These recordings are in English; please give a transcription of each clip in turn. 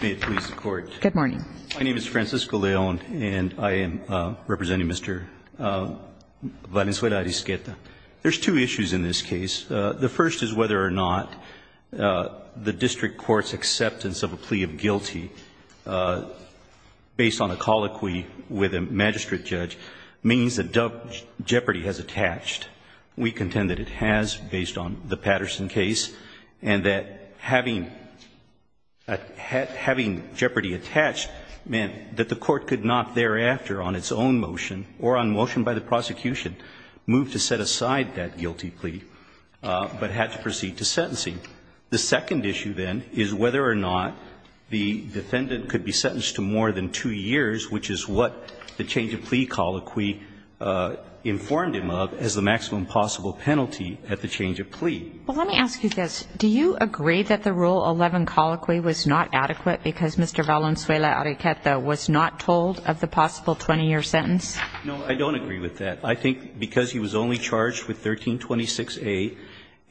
May it please the Court. Good morning. My name is Francisco León and I am representing Mr. Valenzuela-Arisqueta. There's two issues in this case. The first is whether or not the district court's acceptance of a plea of guilty based on a colloquy with a magistrate judge means that jeopardy has attached. We contend that it has based on the Patterson case and that having jeopardy attached meant that the court could not thereafter on its own motion or on motion by the prosecution move to set aside that guilty plea but had to proceed to sentencing. The second issue, then, is whether or not the defendant could be sentenced to more than two years, which is what the change of plea colloquy informed him of as the maximum possible penalty at the change of plea. Well, let me ask you this. Do you agree that the Rule 11 colloquy was not adequate because Mr. Valenzuela-Arisqueta was not told of the possible 20-year sentence? No, I don't agree with that. I think because he was only charged with 1326A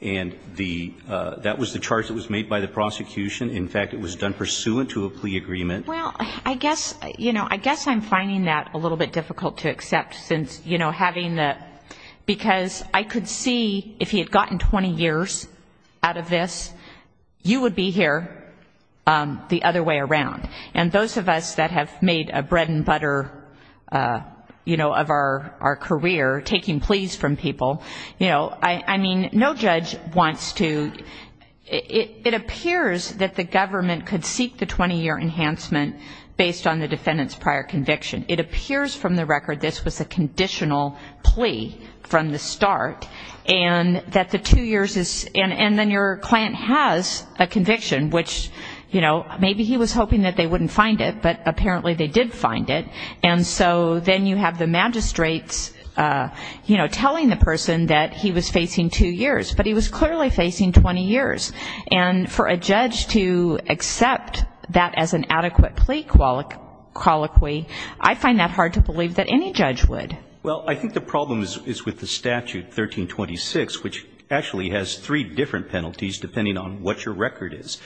and the – that was the charge that was made by the prosecution. In fact, it was done pursuant to a plea agreement. Well, I guess, you know, I guess I'm finding that a little bit difficult to accept since, you know, having the – because I could see if he had gotten 20 years out of this, you would be here the other way around. And those of us that have made a bread and butter, you know, of our career taking pleas from people, you know, I mean, no judge wants to – it appears that the government could seek the 20-year enhancement based on the defendant's prior conviction. It appears from the record this was a conditional plea from the start, and that the two years is – and then your client has a conviction, which, you know, maybe he was hoping that they wouldn't find it, but apparently they did find it. And so then you have the magistrates, you know, telling the person that he was facing two years, but he was clearly facing 20 years. And for a judge to accept that as an adequate plea colloquy, I find that hard to believe that any judge would. Well, I think the problem is with the statute, 1326, which actually has three different penalties depending on what your record is.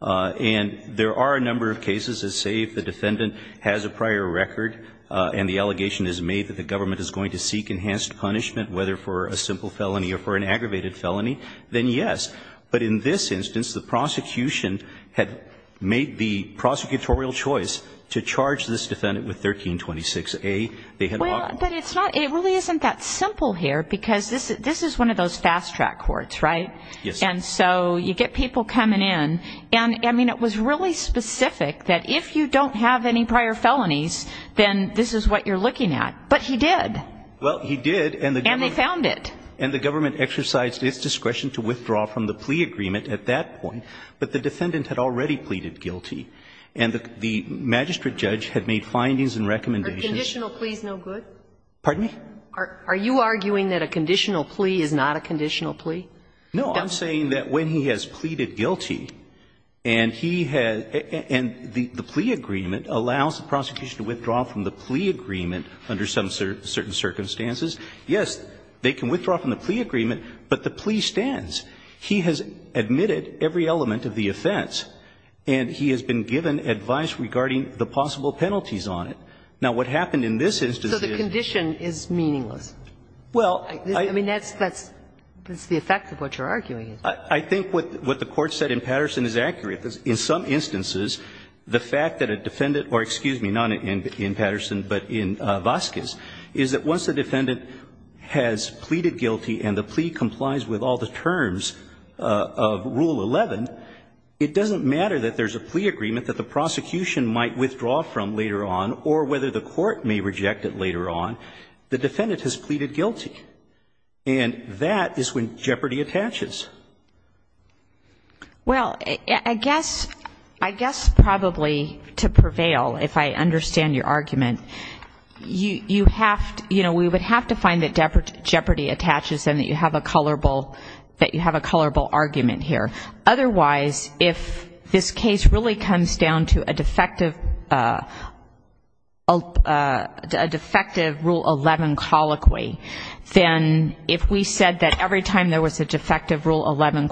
And there are a number of cases that say if the defendant has a prior record and the allegation is made that the government is going to seek enhanced punishment, whether for a simple felony or for an aggravated felony, then yes. But in this instance, the prosecution had made the prosecutorial choice to charge this defendant with 1326A. Well, but it's not – it really isn't that simple here, because this is one of those fast-track courts, right? Yes. And so you get people coming in, and I mean, it was really specific that if you don't have any prior felonies, then this is what you're looking at. But he did. And they found it. And the government exercised its discretion to withdraw from the plea agreement at that point, but the defendant had already pleaded guilty. And the magistrate judge had made findings and recommendations. Are conditional pleas no good? Pardon me? Are you arguing that a conditional plea is not a conditional plea? No, I'm saying that when he has pleaded guilty and he has – and the plea agreement allows the prosecution to withdraw from the plea agreement under some certain circumstances, yes, they can withdraw from the plea agreement, but the plea stands. He has admitted every element of the offense, and he has been given advice regarding the possible penalties on it. Now, what happened in this instance is – So the condition is meaningless? Well, I – I mean, that's the effect of what you're arguing. I think what the Court said in Patterson is accurate. In some instances, the fact that a defendant – or excuse me, not in Patterson but in Vasquez – is that once a defendant has pleaded guilty and the plea complies with all the terms of Rule 11, it doesn't matter that there's a plea agreement that the prosecution might withdraw from later on or whether the court may reject it later on. The defendant has pleaded guilty. And that is when jeopardy attaches. Well, I guess – I guess probably to prevail, if I understand your argument, you have to – you know, we would have to find that jeopardy attaches and that you have a colorable – that you have a colorable argument here. Otherwise, if this case really comes down to a defective – a defective Rule 11 colloquy, then if we said that every time there was a defective Rule 11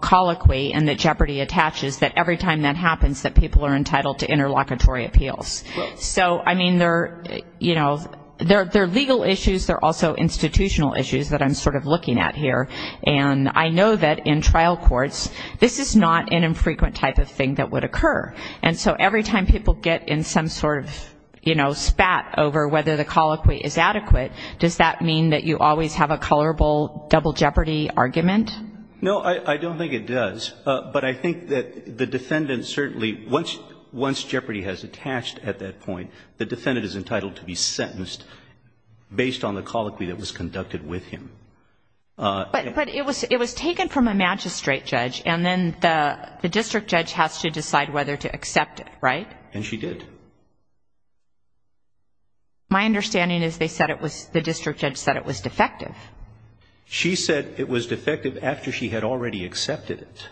colloquy and that jeopardy attaches, that every time that happens that people are entitled to interlocutory appeals. So, I mean, there – you know, there are legal issues. There are also institutional issues that I'm sort of looking at here. And I know that in trial courts, this is not an infrequent type of thing that would occur. And so every time people get in some sort of, you know, spat over whether the defendant is entitled to it, does that mean that you always have a colorable double jeopardy argument? No, I don't think it does. But I think that the defendant certainly – once jeopardy has attached at that point, the defendant is entitled to be sentenced based on the colloquy that was conducted with him. But it was taken from a magistrate judge, and then the district judge has to decide whether to accept it, right? And she did. My understanding is they said it was – the district judge said it was defective. She said it was defective after she had already accepted it.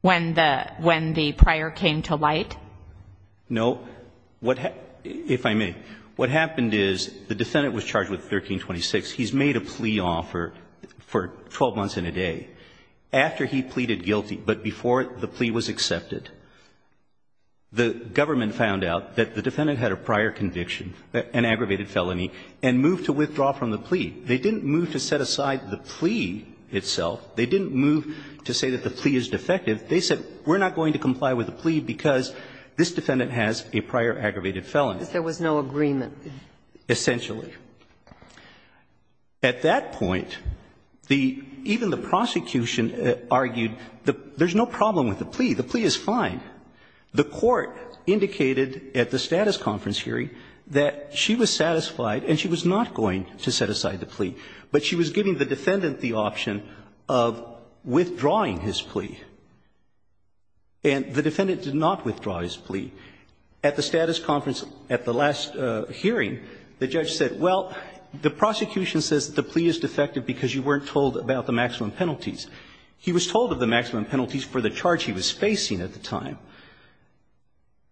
When the prior came to light? No. If I may, what happened is the defendant was charged with 1326. He's made a plea offer for 12 months and a day. After he pleaded guilty, but before the plea was accepted, the government found out that the defendant had a prior conviction, an aggravated felony, and moved to withdraw from the plea. They didn't move to set aside the plea itself. They didn't move to say that the plea is defective. They said, we're not going to comply with the plea because this defendant has a prior aggravated felony. But there was no agreement. Essentially. At that point, the – even the prosecution argued there's no problem with the plea. The plea is fine. The court indicated at the status conference hearing that she was satisfied and she was not going to set aside the plea, but she was giving the defendant the option of withdrawing his plea. And the defendant did not withdraw his plea. At the status conference at the last hearing, the judge said, well, the prosecution says the plea is defective because you weren't told about the maximum penalties. He was told of the maximum penalties for the charge he was facing at the time.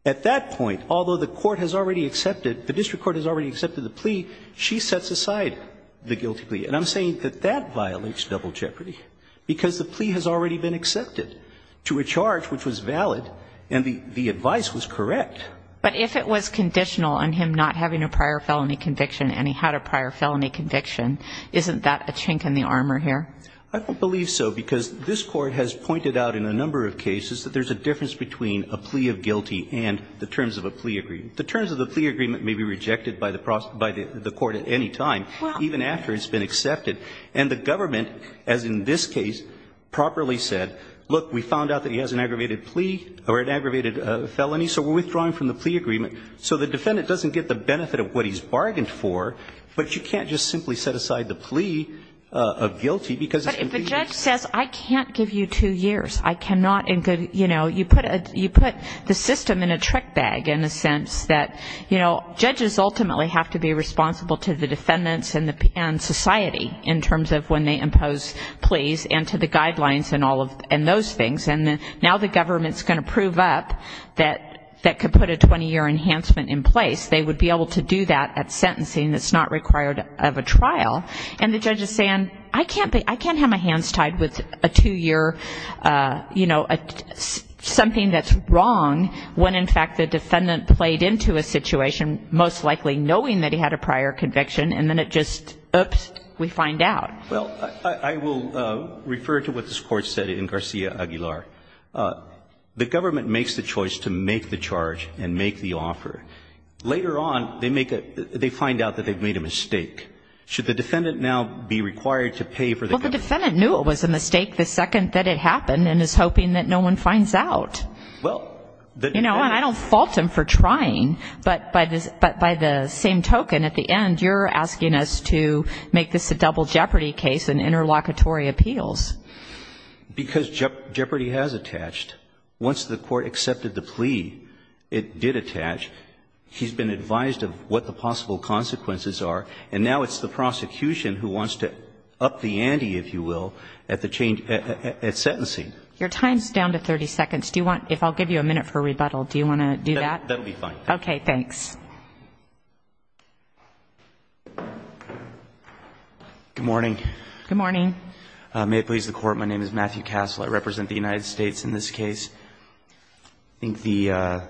At that point, although the court has already accepted, the district court has already accepted the plea, she sets aside the guilty plea. And I'm saying that that violates double jeopardy because the plea has already been accepted to a charge which was valid and the advice was correct. But if it was conditional on him not having a prior felony conviction and he had a prior felony conviction, isn't that a chink in the armor here? I don't believe so, because this Court has pointed out in a number of cases that there's a difference between a plea of guilty and the terms of a plea agreement. The terms of the plea agreement may be rejected by the court at any time, even after it's been accepted. And the government, as in this case, properly said, look, we found out that he has an aggravated plea or an aggravated felony, so we're withdrawing from the plea agreement so the defendant doesn't get the benefit of what he's bargained for, but you can't just simply set aside the plea of guilty because it's completely the same. But if the judge says I can't give you two years, I cannot, you know, you put the system in a trick bag in a sense that, you know, judges ultimately have to be responsible to the defendants and society in terms of when they impose pleas and to the guidelines and all of those things. And now the government's going to prove up that could put a 20-year enhancement in place. They would be able to do that at sentencing that's not required of a trial. And the judge is saying I can't have my hands tied with a two-year, you know, something that's wrong when, in fact, the defendant played into a situation most likely knowing that he had a prior conviction and then it just, oops, we find out. Well, I will refer to what this Court said in Garcia Aguilar. The government makes the choice to make the charge and make the offer. Later on, they make a they find out that they've made a mistake. Should the defendant now be required to pay for the government? Well, the defendant knew it was a mistake the second that it happened and is hoping that no one finds out. Well. You know, and I don't fault him for trying. But by the same token, at the end, you're asking us to make this a double jeopardy case in interlocutory appeals. Because jeopardy has attached. Once the Court accepted the plea, it did attach. He's been advised of what the possible consequences are. And now it's the prosecution who wants to up the ante, if you will, at the change at sentencing. Your time is down to 30 seconds. Do you want, if I'll give you a minute for rebuttal, do you want to do that? That would be fine. Okay, thanks. Good morning. Good morning. May it please the Court. My name is Matthew Castle. I represent the United States in this case. I think the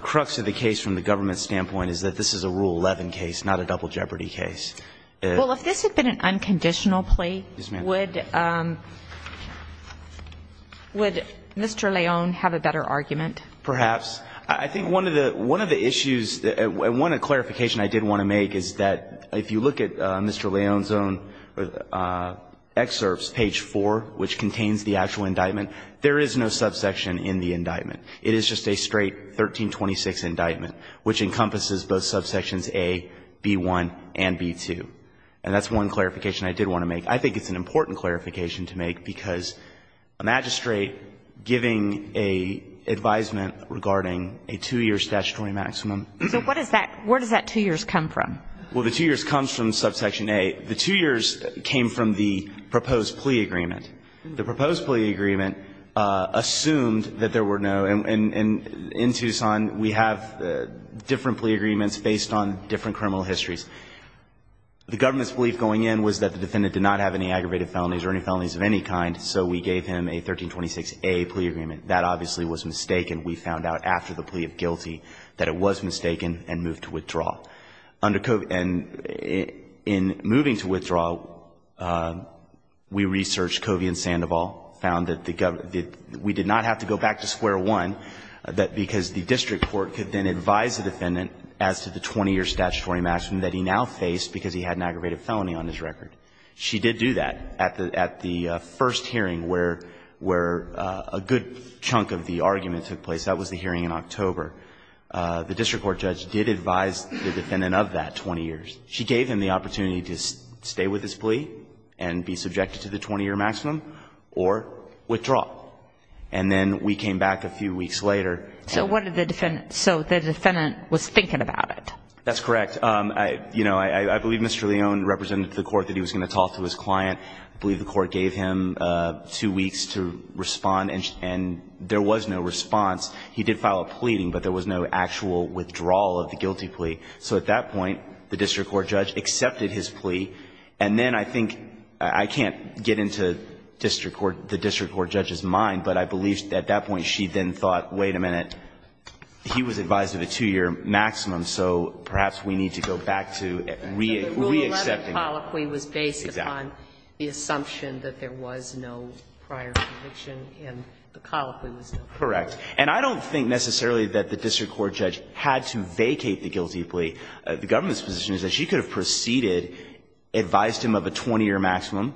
crux of the case from the government's standpoint is that this is a Rule 11 case, not a double jeopardy case. Well, if this had been an unconditional plea, would Mr. Leone have a better argument? Perhaps. I think one of the issues, one clarification I did want to make is that if you look at Mr. Leone's own excerpts, page 4, which contains the actual indictment, there is no subsection in the indictment. It is just a straight 1326 indictment, which encompasses both subsections A, B-1, and B-2. And that's one clarification I did want to make. I think it's an important clarification to make because a magistrate giving an advisement regarding a two-year statutory maximum. So what does that, where does that two years come from? Well, the two years comes from subsection A. The two years came from the proposed plea agreement. The proposed plea agreement assumed that there were no, and in Tucson we have different plea agreements based on different criminal histories. The government's belief going in was that the defendant did not have any aggravated felonies or any felonies of any kind, so we gave him a 1326A plea agreement. That obviously was mistaken. We found out after the plea of guilty that it was mistaken and moved to withdraw. And in moving to withdraw, we researched Covey and Sandoval, found that we did not have to go back to square one because the district court could then advise the defendant as to the 20-year statutory maximum that he now faced because he had an aggravated felony on his record. She did do that at the first hearing where a good chunk of the argument took place. That was the hearing in October. The district court judge did advise the defendant of that 20 years. She gave him the opportunity to stay with his plea and be subjected to the 20-year maximum or withdraw. And then we came back a few weeks later. So what did the defendant, so the defendant was thinking about it. That's correct. You know, I believe Mr. Leone represented to the court that he was going to talk to his client. I believe the court gave him two weeks to respond, and there was no response. He did file a pleading, but there was no actual withdrawal of the guilty plea. So at that point, the district court judge accepted his plea. And then I think, I can't get into the district court judge's mind, but I believe at that point she then thought, wait a minute, he was advised of a two-year maximum, so perhaps we need to go back to re-accepting that. So the Rule 11 colloquy was based upon the assumption that there was no prior conviction and the colloquy was no prior conviction. Correct. And I don't think necessarily that the district court judge had to vacate the guilty plea. The government's position is that she could have proceeded, advised him of a 20-year maximum,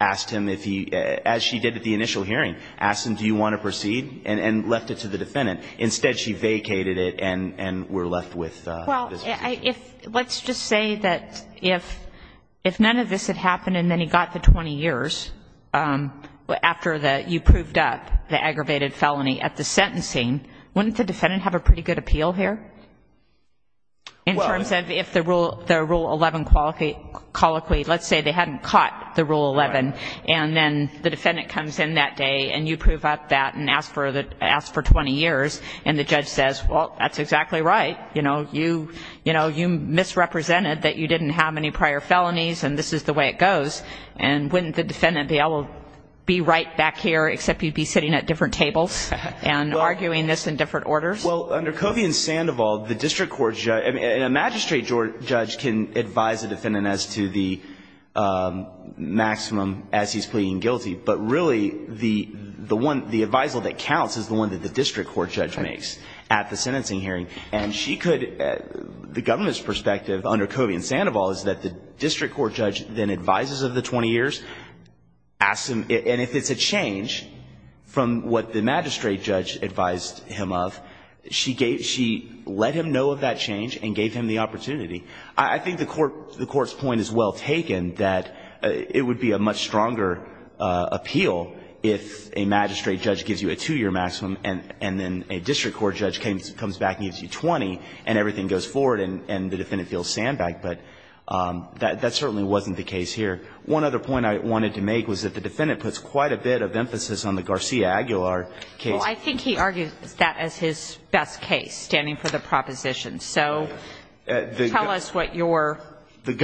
asked him if he, as she did at the initial hearing, asked him, do you want to proceed, and left it to the defendant. Instead, she vacated it and we're left with this decision. Well, let's just say that if none of this had happened and then he got the 20 years after you proved up the aggravated felony at the sentencing, wouldn't the defendant have a pretty good appeal here? In terms of if the Rule 11 colloquy, let's say they hadn't caught the Rule 11, and then the defendant comes in that day and you prove up that and ask for 20 years, and the judge says, well, that's exactly right. You misrepresented that you didn't have any prior felonies and this is the way it would be right back here, except you'd be sitting at different tables and arguing this in different orders. Well, under Covey and Sandoval, the district court judge, and a magistrate judge can advise a defendant as to the maximum as he's pleading guilty, but really the one, the advisal that counts is the one that the district court judge makes at the sentencing hearing. And she could, the government's perspective under Covey and Sandoval is that the maximum, and if it's a change from what the magistrate judge advised him of, she gave, she let him know of that change and gave him the opportunity. I think the court's point is well taken that it would be a much stronger appeal if a magistrate judge gives you a two-year maximum and then a district court judge comes back and gives you 20 and everything goes forward and the defendant feels sandbagged. But that certainly wasn't the case here. One other point I wanted to make was that the defendant puts quite a bit of emphasis on the Garcia-Aguilar case. Well, I think he argues that as his best case, standing for the proposition. So tell us what your motivation is on that. The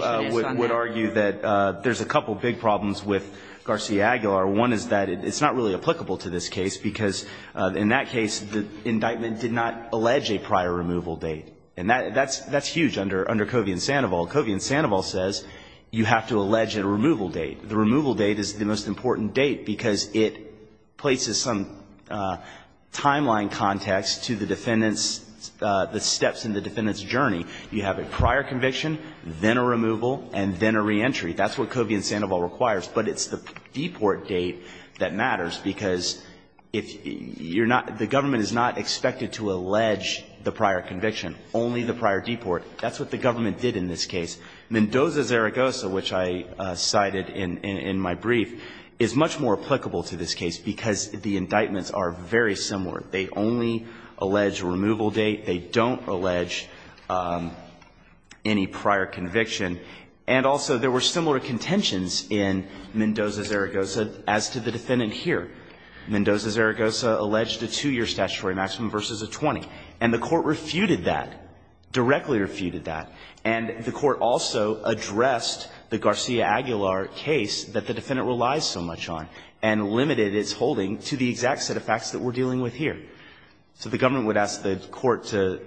government would argue that there's a couple big problems with Garcia-Aguilar. One is that it's not really applicable to this case because in that case the indictment did not allege a prior removal date. And that's huge under Covey and Sandoval. Covey and Sandoval says you have to allege a removal date. The removal date is the most important date because it places some timeline context to the defendant's, the steps in the defendant's journey. You have a prior conviction, then a removal, and then a reentry. That's what Covey and Sandoval requires. But it's the deport date that matters because if you're not, the government is not expected to allege the prior conviction, only the prior deport. That's what the government did in this case. Mendoza-Zaragoza, which I cited in my brief, is much more applicable to this case because the indictments are very similar. They only allege removal date. They don't allege any prior conviction. And also there were similar contentions in Mendoza-Zaragoza as to the defendant here. Mendoza-Zaragoza alleged a two-year statutory maximum versus a 20. And the Court refuted that, directly refuted that. And the Court also addressed the Garcia-Aguilar case that the defendant relies so much on and limited its holding to the exact set of facts that we're dealing with here. So the government would ask the Court to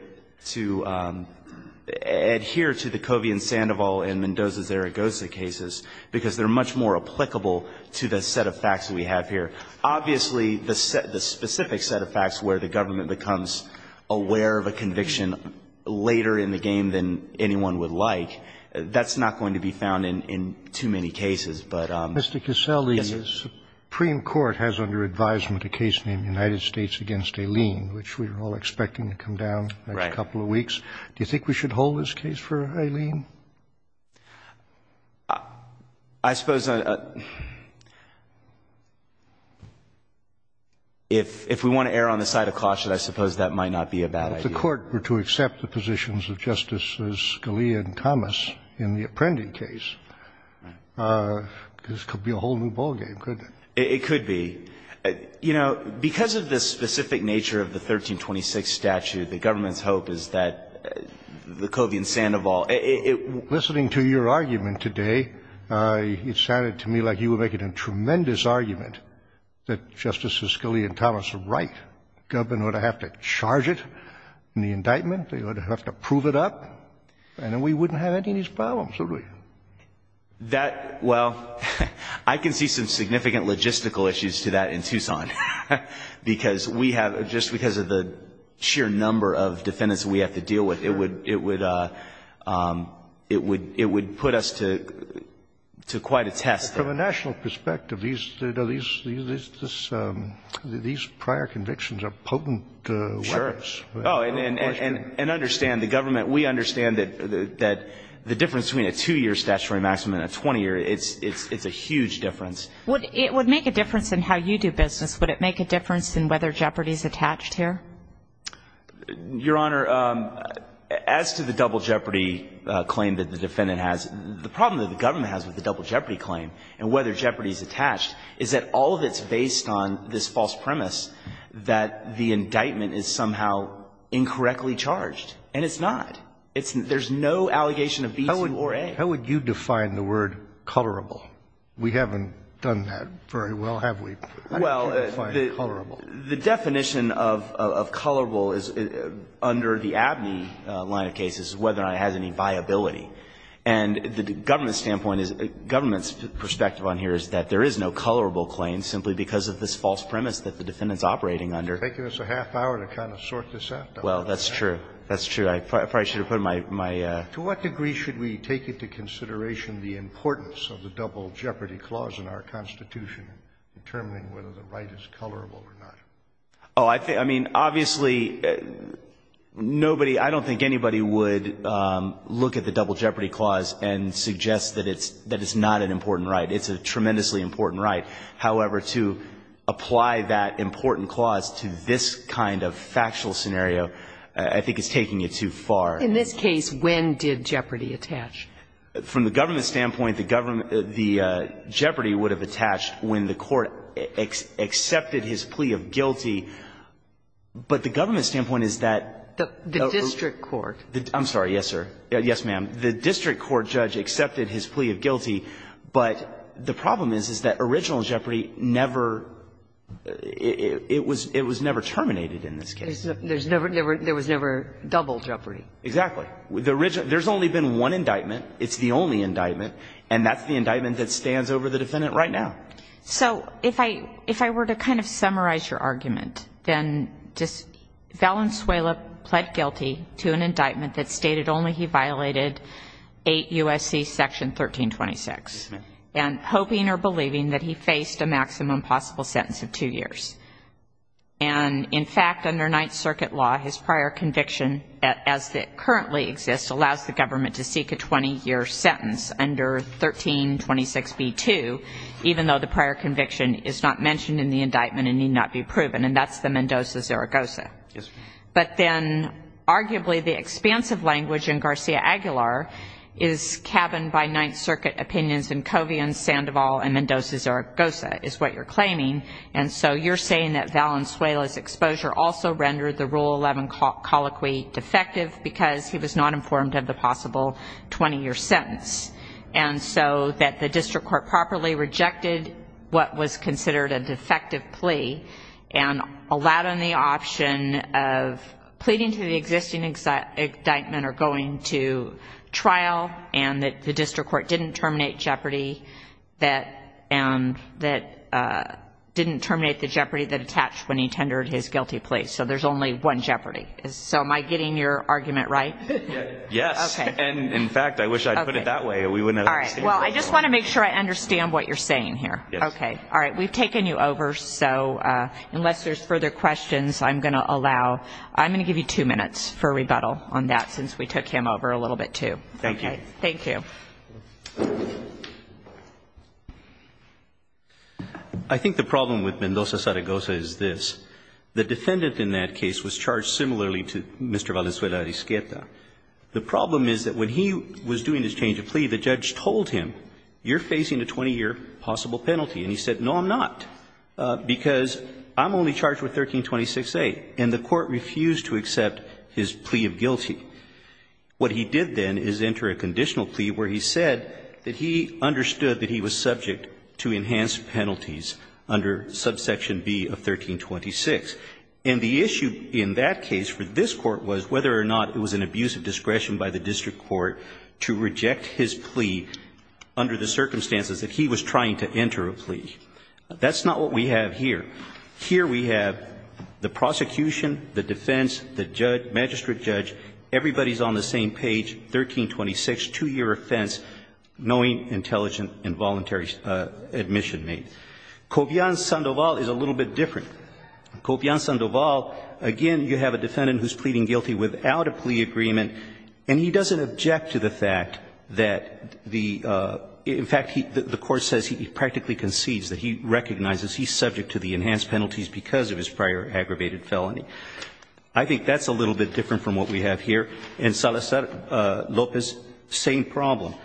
adhere to the Covey and Sandoval and Mendoza-Zaragoza cases because they're much more applicable to the set of facts that we have here. Obviously, the specific set of facts where the government becomes aware of a conviction later in the game than anyone would like, that's not going to be found in too many cases, but yes. Sotomayor, Supreme Court has under advisement a case named United States against Aileen, which we're all expecting to come down in a couple of weeks. Do you think we should hold this case for Aileen? I suppose if we want to err on the side of caution, I suppose that might not be a bad idea. If the Court were to accept the positions of Justices Scalia and Thomas in the Apprendi case, this could be a whole new ballgame, couldn't it? It could be. You know, because of the specific nature of the 1326 statute, the government's understanding of that, Lecovy and Sandoval, it — Listening to your argument today, it sounded to me like you were making a tremendous argument that Justices Scalia and Thomas are right. The government ought to have to charge it in the indictment. They ought to have to prove it up, and then we wouldn't have any of these problems, would we? That — well, I can see some significant logistical issues to that in Tucson, because of the sheer number of defendants we have to deal with. It would put us to quite a test there. From a national perspective, these prior convictions are potent weapons. Sure. And understand, the government, we understand that the difference between a two-year statutory maximum and a 20-year, it's a huge difference. It would make a difference in how you do business. Would it make a difference in whether jeopardy is attached here? Your Honor, as to the double jeopardy claim that the defendant has, the problem that the government has with the double jeopardy claim and whether jeopardy is attached is that all of it's based on this false premise that the indictment is somehow incorrectly charged. And it's not. There's no allegation of visa or aid. How would you define the word colorable? We haven't done that very well, have we? I can't define colorable. Well, the definition of colorable is under the Abney line of cases, whether or not it has any viability. And the government's standpoint is — government's perspective on here is that there is no colorable claim simply because of this false premise that the defendant's operating under. It's taken us a half-hour to kind of sort this out. Well, that's true. That's true. I probably should have put my — To what degree should we take into consideration the importance of the double jeopardy clause in our Constitution, determining whether the right is colorable or not? Oh, I think — I mean, obviously, nobody — I don't think anybody would look at the double jeopardy clause and suggest that it's — that it's not an important right. It's a tremendously important right. However, to apply that important clause to this kind of factual scenario, I think it's taking it too far. In this case, when did jeopardy attach? From the government's standpoint, the jeopardy would have attached when the court accepted his plea of guilty. But the government's standpoint is that — The district court. I'm sorry. Yes, sir. Yes, ma'am. The district court judge accepted his plea of guilty. But the problem is, is that original jeopardy never — it was never terminated in this case. There was never double jeopardy. Exactly. The original — there's only been one indictment. It's the only indictment. And that's the indictment that stands over the defendant right now. So if I — if I were to kind of summarize your argument, then just — Valenzuela pled guilty to an indictment that stated only he violated 8 U.S.C. Section 1326. Yes, ma'am. And hoping or believing that he faced a maximum possible sentence of two years. And, in fact, under Ninth Circuit law, his prior conviction, as it currently exists, allows the government to seek a 20-year sentence under 1326b2, even though the prior conviction is not mentioned in the indictment and need not be proven. And that's the Mendoza-Zaragoza. Yes, ma'am. But then, arguably, the expansive language in Garcia Aguilar is cabined by Ninth Circuit opinions in Covian, Sandoval, and Mendoza-Zaragoza, is what you're saying that Valenzuela's exposure also rendered the Rule 11 colloquy defective because he was not informed of the possible 20-year sentence. And so that the district court properly rejected what was considered a defective plea and allowed on the option of pleading to the existing indictment or going to trial, and that the district court didn't terminate jeopardy that — and that didn't terminate the jeopardy that attached when he tendered his guilty plea. So there's only one jeopardy. So am I getting your argument right? Yes. Okay. And, in fact, I wish I'd put it that way. We wouldn't have — All right. Well, I just want to make sure I understand what you're saying here. Yes. Okay. All right. We've taken you over. So unless there's further questions, I'm going to allow — I'm going to give you two minutes for rebuttal on that since we took him over a little bit, too. Thank you. Thank you. I think the problem with Mendoza-Saragosa is this. The defendant in that case was charged similarly to Mr. Valenzuela-Rizqueta. The problem is that when he was doing his change of plea, the judge told him, you're facing a 20-year possible penalty. And he said, no, I'm not, because I'm only charged with 1326A. And the court refused to accept his plea of guilty. What he did then is enter a conditional plea where he said that he understood that he was subject to enhanced penalties under subsection B of 1326. And the issue in that case for this Court was whether or not it was an abuse of discretion by the district court to reject his plea under the circumstances that he was trying to enter a plea. That's not what we have here. Here we have the prosecution, the defense, the judge, magistrate judge, everybody's on the same page, 1326, two-year offense, knowing, intelligent, and voluntary admission made. Cobian-Sandoval is a little bit different. Cobian-Sandoval, again, you have a defendant who's pleading guilty without a plea agreement, and he doesn't object to the fact that the, in fact, the court says he practically concedes, that he recognizes he's subject to the enhanced penalties because of his prior aggravated felony. I think that's a little bit different from what we have here. And Salazar-Lopez, same problem.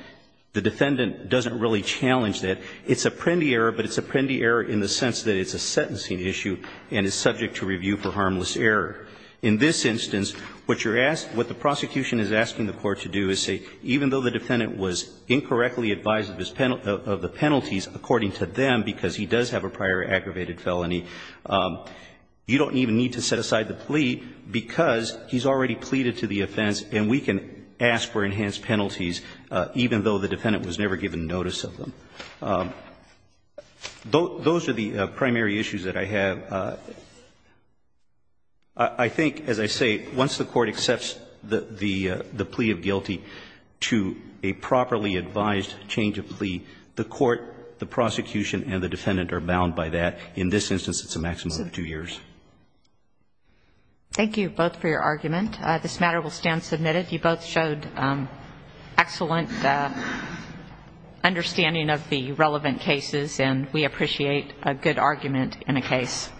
The defendant doesn't really challenge that. It's a Prendi error, but it's a Prendi error in the sense that it's a sentencing issue and is subject to review for harmless error. In this instance, what you're asked, what the prosecution is asking the court to do is say, even though the defendant was incorrectly advised of the penalties according to them because he does have a prior aggravated felony, you don't even need to set aside the plea because he's already pleaded to the offense and we can ask for enhanced penalties, even though the defendant was never given notice of them. Those are the primary issues that I have. I think, as I say, once the court accepts the plea of guilty to a properly advised change of plea, the court, the prosecution and the defendant are bound by that. In this instance, it's a maximum of two years. Thank you both for your argument. This matter will stand submitted. You both showed excellent understanding of the relevant cases, and we appreciate a good argument in a case.